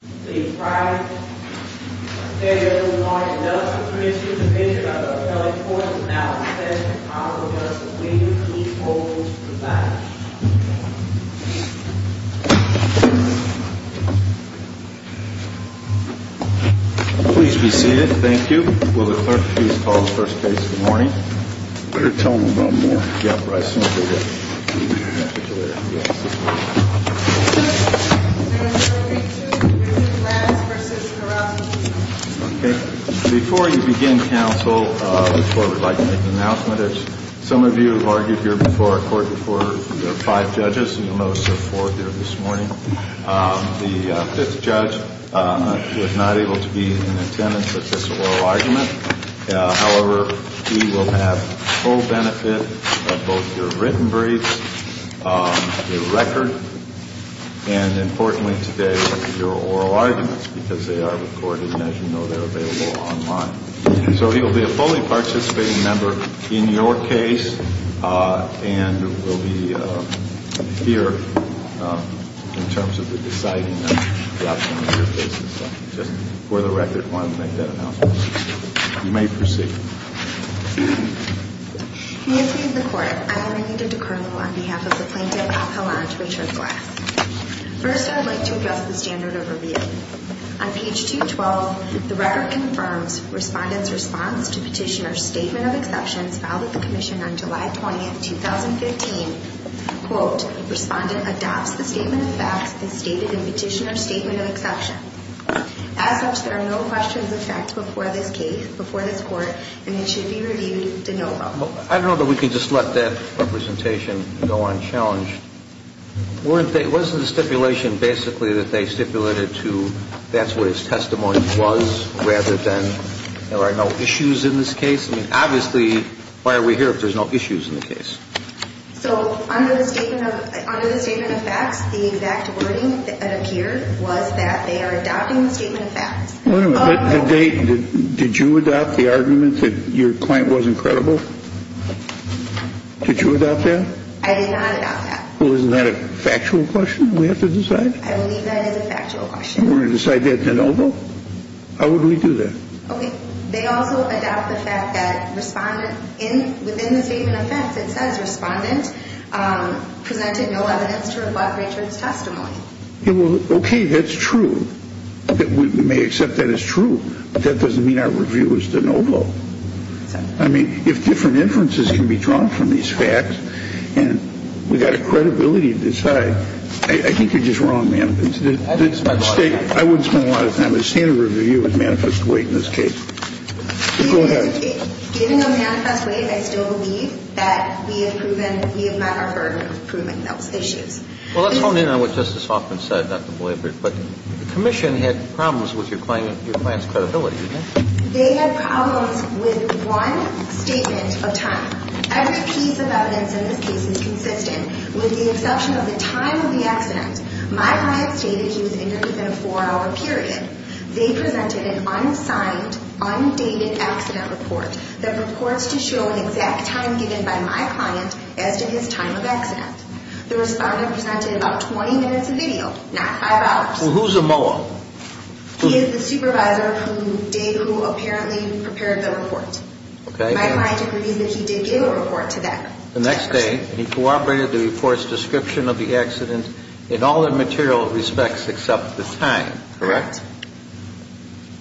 Please be seated, thank you. Will the clerk please call the first case of the morning? Before you begin, counsel, I would like to make an announcement. As some of you have argued here before our court before, there are five judges and the most of four here this morning. The fifth judge was not able to be in attendance at this oral argument. However, he will have full benefit of both your written briefs, your record, and importantly today, your oral arguments because they are recorded and as you know they are available online. So he will be a fully participating member in your case and will be here in terms of the deciding of your case. Just for the record, I wanted to make that announcement. You may proceed. In the interest of the court, I am going to defer on behalf of the plaintiff to Richard Glass. First, I would like to address the standard of review. On page 212, the record confirms respondent's response to petitioner's statement of exceptions filed at the commission on July 20, 2015, quote, respondent adopts the statement of facts as stated in petitioner's statement of exceptions. As such, there are no questions of facts before this case, before this court, and it should be reviewed to no avail. I don't know that we can just let that representation go unchallenged. Wasn't the stipulation basically that they stipulated to that's what his testimony was rather than there are no issues in this case? I mean, obviously, why are we here if there's no issues in the case? So under the statement of facts, the exact wording that appeared was that they are adopting the statement of facts. Did you adopt the argument that your client wasn't credible? Did you adopt that? I did not adopt that. Well, isn't that a factual question we have to decide? I believe that is a factual question. You want to decide that de novo? How would we do that? Okay. They also adopt the fact that respondent, within the statement of facts, it says respondent presented no evidence to reflect Richard's testimony. Okay, that's true. We may accept that as true, but that doesn't mean our review is de novo. I mean, if different inferences can be drawn from these facts and we've got a credibility to decide, I think you're just wrong, ma'am. I wouldn't spend a lot of time. I've seen a review with manifest weight in this case. Go ahead. Given the manifest weight, I still believe that we have met our burden of proving those issues. Well, let's hone in on what Justice Hoffman said, Dr. Blayford, but the commission had problems with your client's credibility, didn't it? They had problems with one statement of time. Every piece of evidence in this case is consistent with the exception of the time of the accident. My client stated he was injured within a four-hour period. They presented an unsigned, undated accident report that reports to show an exact time given by my client as to his time of accident. The respondent presented about 20 minutes of video, not five hours. Well, who's the mower? He is the supervisor who apparently prepared the report. My client agrees that he did give a report to them. The next day, he corroborated the report's description of the accident in all the material respects except the time, correct?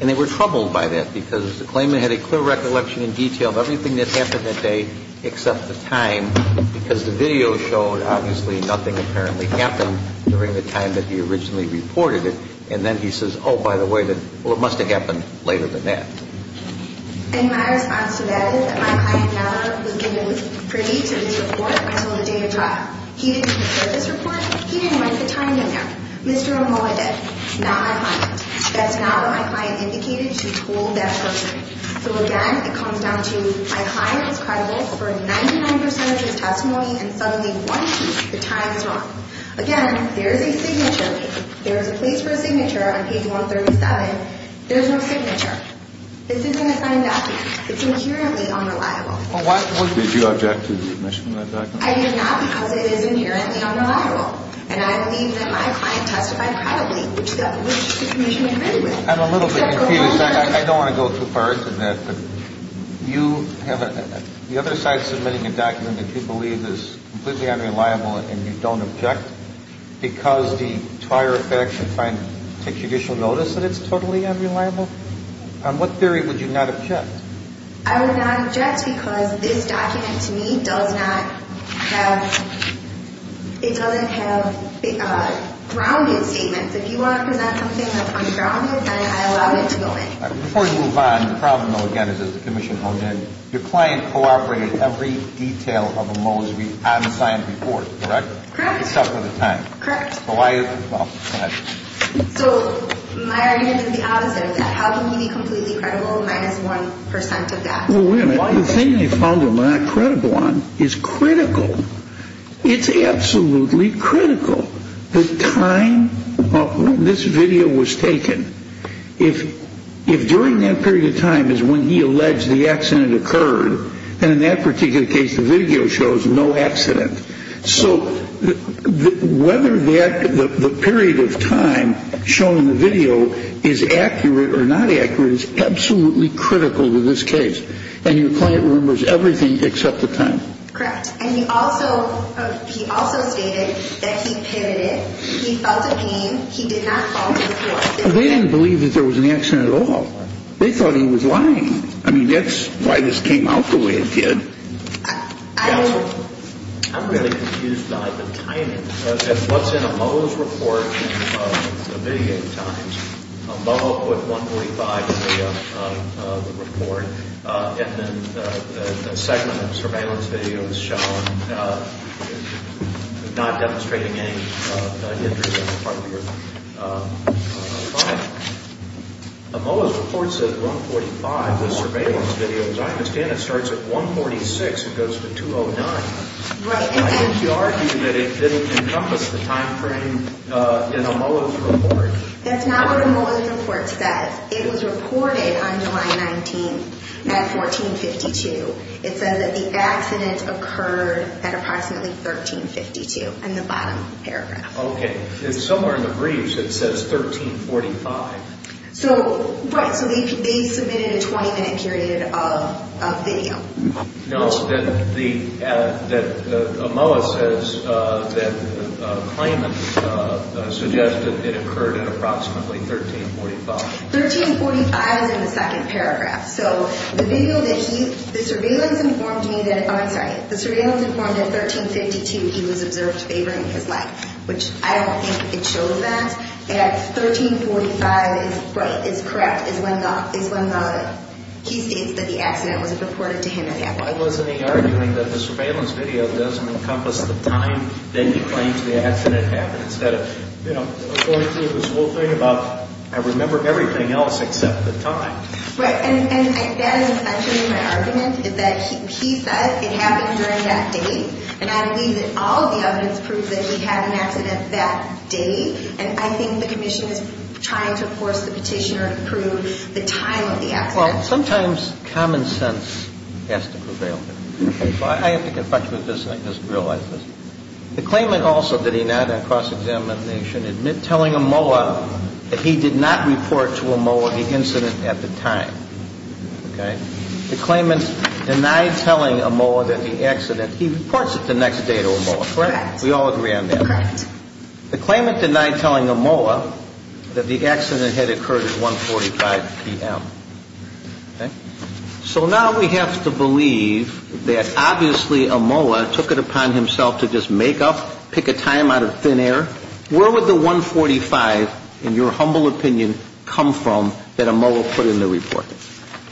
And they were troubled by that because the claimant had a clear recollection in detail of everything that happened that day except the time because the video showed obviously nothing apparently happened during the time that he originally reported it. And then he says, oh, by the way, well, it must have happened later than that. And my response to that is that my client never was able to predict this report until the day of trial. He didn't prepare this report. He didn't write the time in there. Mr. Omoa did, not my client. That's not what my client indicated. She told that person. So, again, it comes down to my client was credible for 99% of his testimony, and suddenly, one piece, the time is wrong. Again, there is a signature. There is a place for a signature on page 137. There's no signature. This isn't a signed document. It's inherently unreliable. Did you object to the submission of that document? I did not because it is inherently unreliable. And I believe that my client testified probably to that which the commission agreed with. I'm a little bit confused. I don't want to go too far into that. But you have the other side submitting a document that you believe is completely unreliable and you don't object because the prior effect should take judicial notice that it's totally unreliable? On what theory would you not object? I would not object because this document, to me, does not have grounded statements. If you want to present something that's ungrounded, then I allow it to go in. Before you move on, the problem, though, again, is as the commission honed in, your client cooperated every detail of Omoa's unsigned report, correct? Correct. Except for the time. Correct. Well, go ahead. So my argument is the opposite of that. How can he be completely credible minus 1% of that? Well, wait a minute. The thing they found him not credible on is critical. It's absolutely critical. The time this video was taken, if during that period of time is when he alleged the accident occurred, and in that particular case the video shows no accident. So whether the period of time shown in the video is accurate or not accurate is absolutely critical to this case. And your client remembers everything except the time. Correct. And he also stated that he pivoted, he felt a pain, he did not fall to the floor. They didn't believe that there was an accident at all. They thought he was lying. I mean, that's why this came out the way it did. Counsel, I'm really confused by the timing. What's in Omoa's report in the mitigating times, Omoa put 1.45 in the report, and then the segment of surveillance video is shown not demonstrating any injuries on the part of your client. Omoa's report says 1.45, the surveillance video. As I understand it starts at 1.46 and goes to 2.09. Right. I think you argue that it didn't encompass the time frame in Omoa's report. That's not what Omoa's report says. It was reported on July 19th at 14.52. It says that the accident occurred at approximately 13.52 in the bottom paragraph. Okay. Somewhere in the briefs it says 13.45. Right, so they submitted a 20-minute period of video. No, Omoa says that claimant suggested it occurred at approximately 13.45. 13.45 is in the second paragraph. So the surveillance informed me that at 13.52 he was observed favoring his life, which I don't think it shows that. 13.45 is correct. It's when he states that the accident was reported to him at that point. Why wasn't he arguing that the surveillance video doesn't encompass the time that he claims the accident happened instead of, you know, according to this whole thing about I remember everything else except the time. Right. And that is essentially my argument is that he says it happened during that date, and I believe that all of the evidence proves that he had an accident that date. And I think the commission is trying to force the petitioner to prove the time of the accident. Well, sometimes common sense has to prevail. I have to confess with this and I just realized this. The claimant also did not in cross-examination admit telling Omoa that he did not report to Omoa the incident at the time. Okay. The claimant denied telling Omoa that the accident, he reports it the next day to Omoa. Correct. We all agree on that. Correct. The claimant denied telling Omoa that the accident had occurred at 145 p.m. Okay. So now we have to believe that obviously Omoa took it upon himself to just make up, pick a time out of thin air. Where would the 145, in your humble opinion, come from that Omoa put in the report?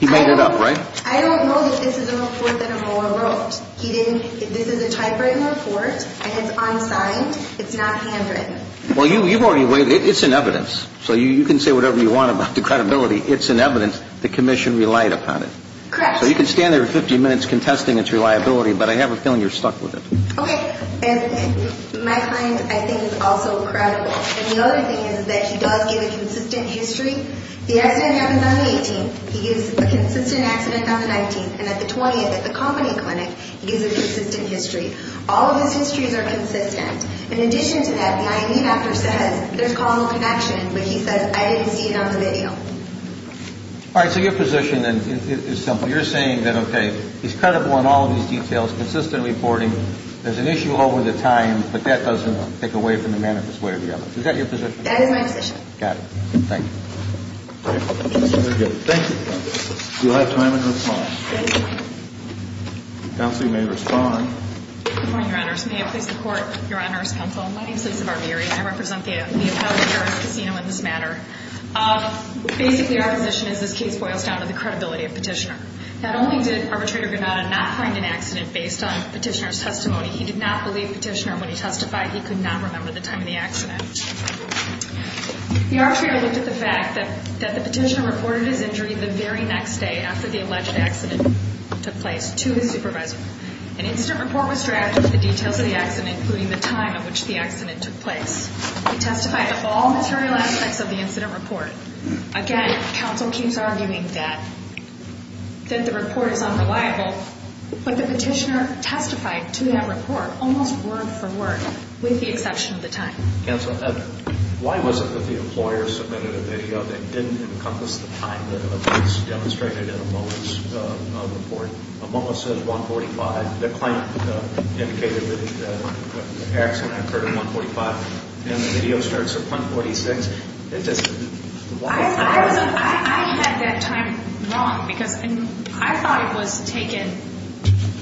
He made it up, right? I don't know that this is a report that Omoa wrote. This is a typewritten report and it's unsigned. It's not handwritten. Well, you've already weighed it. It's in evidence. So you can say whatever you want about the credibility. It's in evidence. The commission relied upon it. Correct. So you can stand there for 50 minutes contesting its reliability, but I have a feeling you're stuck with it. Okay. And my client, I think, is also credible. And the other thing is that he does give a consistent history. The accident happens on the 18th. He gives a consistent accident on the 19th. And at the 20th at the company clinic, he gives a consistent history. All of his histories are consistent. In addition to that, the IED doctor says there's causal connection, but he says I didn't see it on the video. All right. So your position is simple. You're saying that, okay, he's credible in all of these details, consistent reporting. There's an issue over the time, but that doesn't take away from the manifest way or the other. Is that your position? That is my position. Got it. Thank you. Very good. Thank you. Do you have time in response? Yes. Counsel, you may respond. Good morning, Your Honors. May it please the Court, Your Honors Counsel. My name is Lisa Barbieri. I represent the appellate jurist casino in this matter. Basically, our position is this case boils down to the credibility of Petitioner. Not only did Arbitrator Granada not find an accident based on Petitioner's testimony, he did not believe Petitioner when he testified. He could not remember the time of the accident. The arbitrator looked at the fact that the Petitioner reported his injury the very next day after the alleged accident took place to his supervisor. An incident report was drafted with the details of the accident, including the time at which the accident took place. He testified of all material aspects of the incident report. Again, counsel keeps arguing that the report is unreliable, but the Petitioner testified to that report almost word for word with the exception of the time. Counsel, why was it that the employer submitted a video that didn't encompass the time that was demonstrated in Amola's report? Amola says 1.45. The claim indicated that the accident occurred at 1.45, and the video starts at 1.46. It just, why? I had that time wrong because I thought it was taken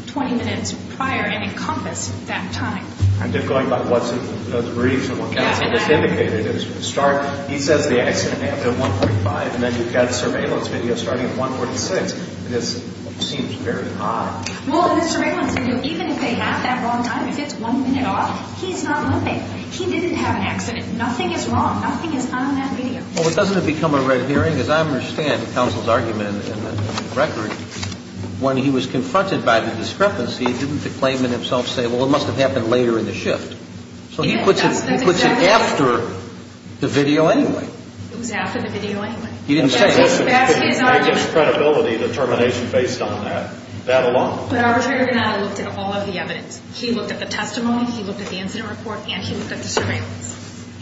20 minutes prior and encompassed that time. I'm just going by what the briefs and what counsel just indicated. It was from the start. He says the accident happened at 1.5, and then you've got surveillance video starting at 1.46. This seems very odd. Well, in the surveillance video, even if they have that wrong time, if it's one minute off, he's not moving. He didn't have an accident. Nothing is wrong. Nothing is on that video. Well, doesn't it become a red herring? As I understand counsel's argument in the record, when he was confronted by the discrepancy, didn't the claimant himself say, well, it must have happened later in the shift? So he puts it after the video anyway. It was after the video anyway. He didn't say it. That's his argument. It's credibility determination based on that, that alone. But Arbiter Granada looked at all of the evidence. He looked at the testimony, he looked at the incident report, and he looked at the surveillance.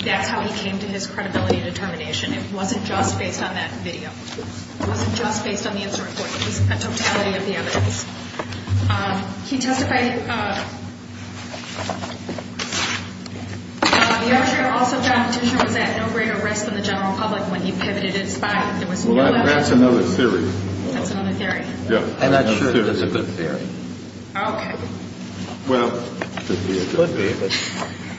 That's how he came to his credibility determination. It wasn't just based on that video. It wasn't just based on the incident report. It was a totality of the evidence. He testified. The arbitrator also found Petitioner was at no greater risk than the general public when he pivoted his spine. Well, that's another theory. That's another theory? Yeah. I'm not sure if that's a good theory. Okay. Well, it could be.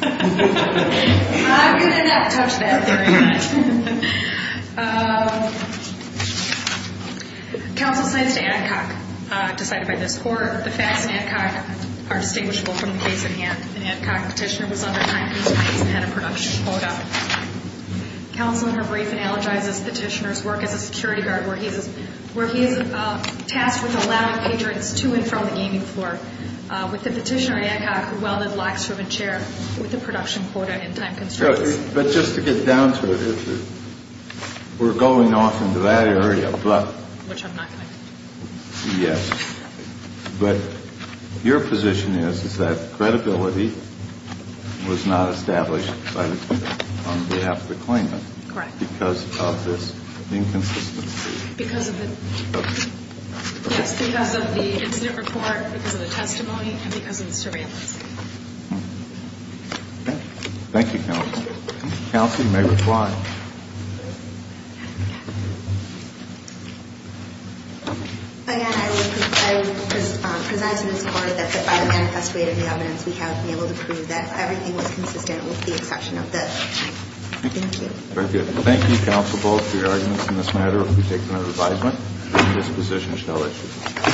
I'm going to not touch that theory. Counsel cites to Adcock, decided by this court, the facts in Adcock are distinguishable from the case at hand. In Adcock, Petitioner was under 9 feet 6 and had a production quota. Counsel in her brief analogizes Petitioner's work as a security guard where he is tasked with allowing patrons to and from the gaming floor. With the Petitioner, Adcock welded locks from a chair with a production quota in time constraints. But just to get down to it, we're going off into that area, but. Which I'm not going to do. Yes. But your position is, is that credibility was not established on behalf of the claimant. Correct. Because of this inconsistency. Because of the. Okay. Yes, because of the incident report, because of the testimony, and because of the surveillance. Thank you. Thank you, Counsel. Counsel, you may reply. Again, I will present to this court that by the manifest way of the evidence, we have been able to prove that everything was consistent with the exception of this. Thank you. Thank you. Very good. Thank you, Counsel Bowles, for your arguments in this matter of Petitioner's advisement. This position is now issued.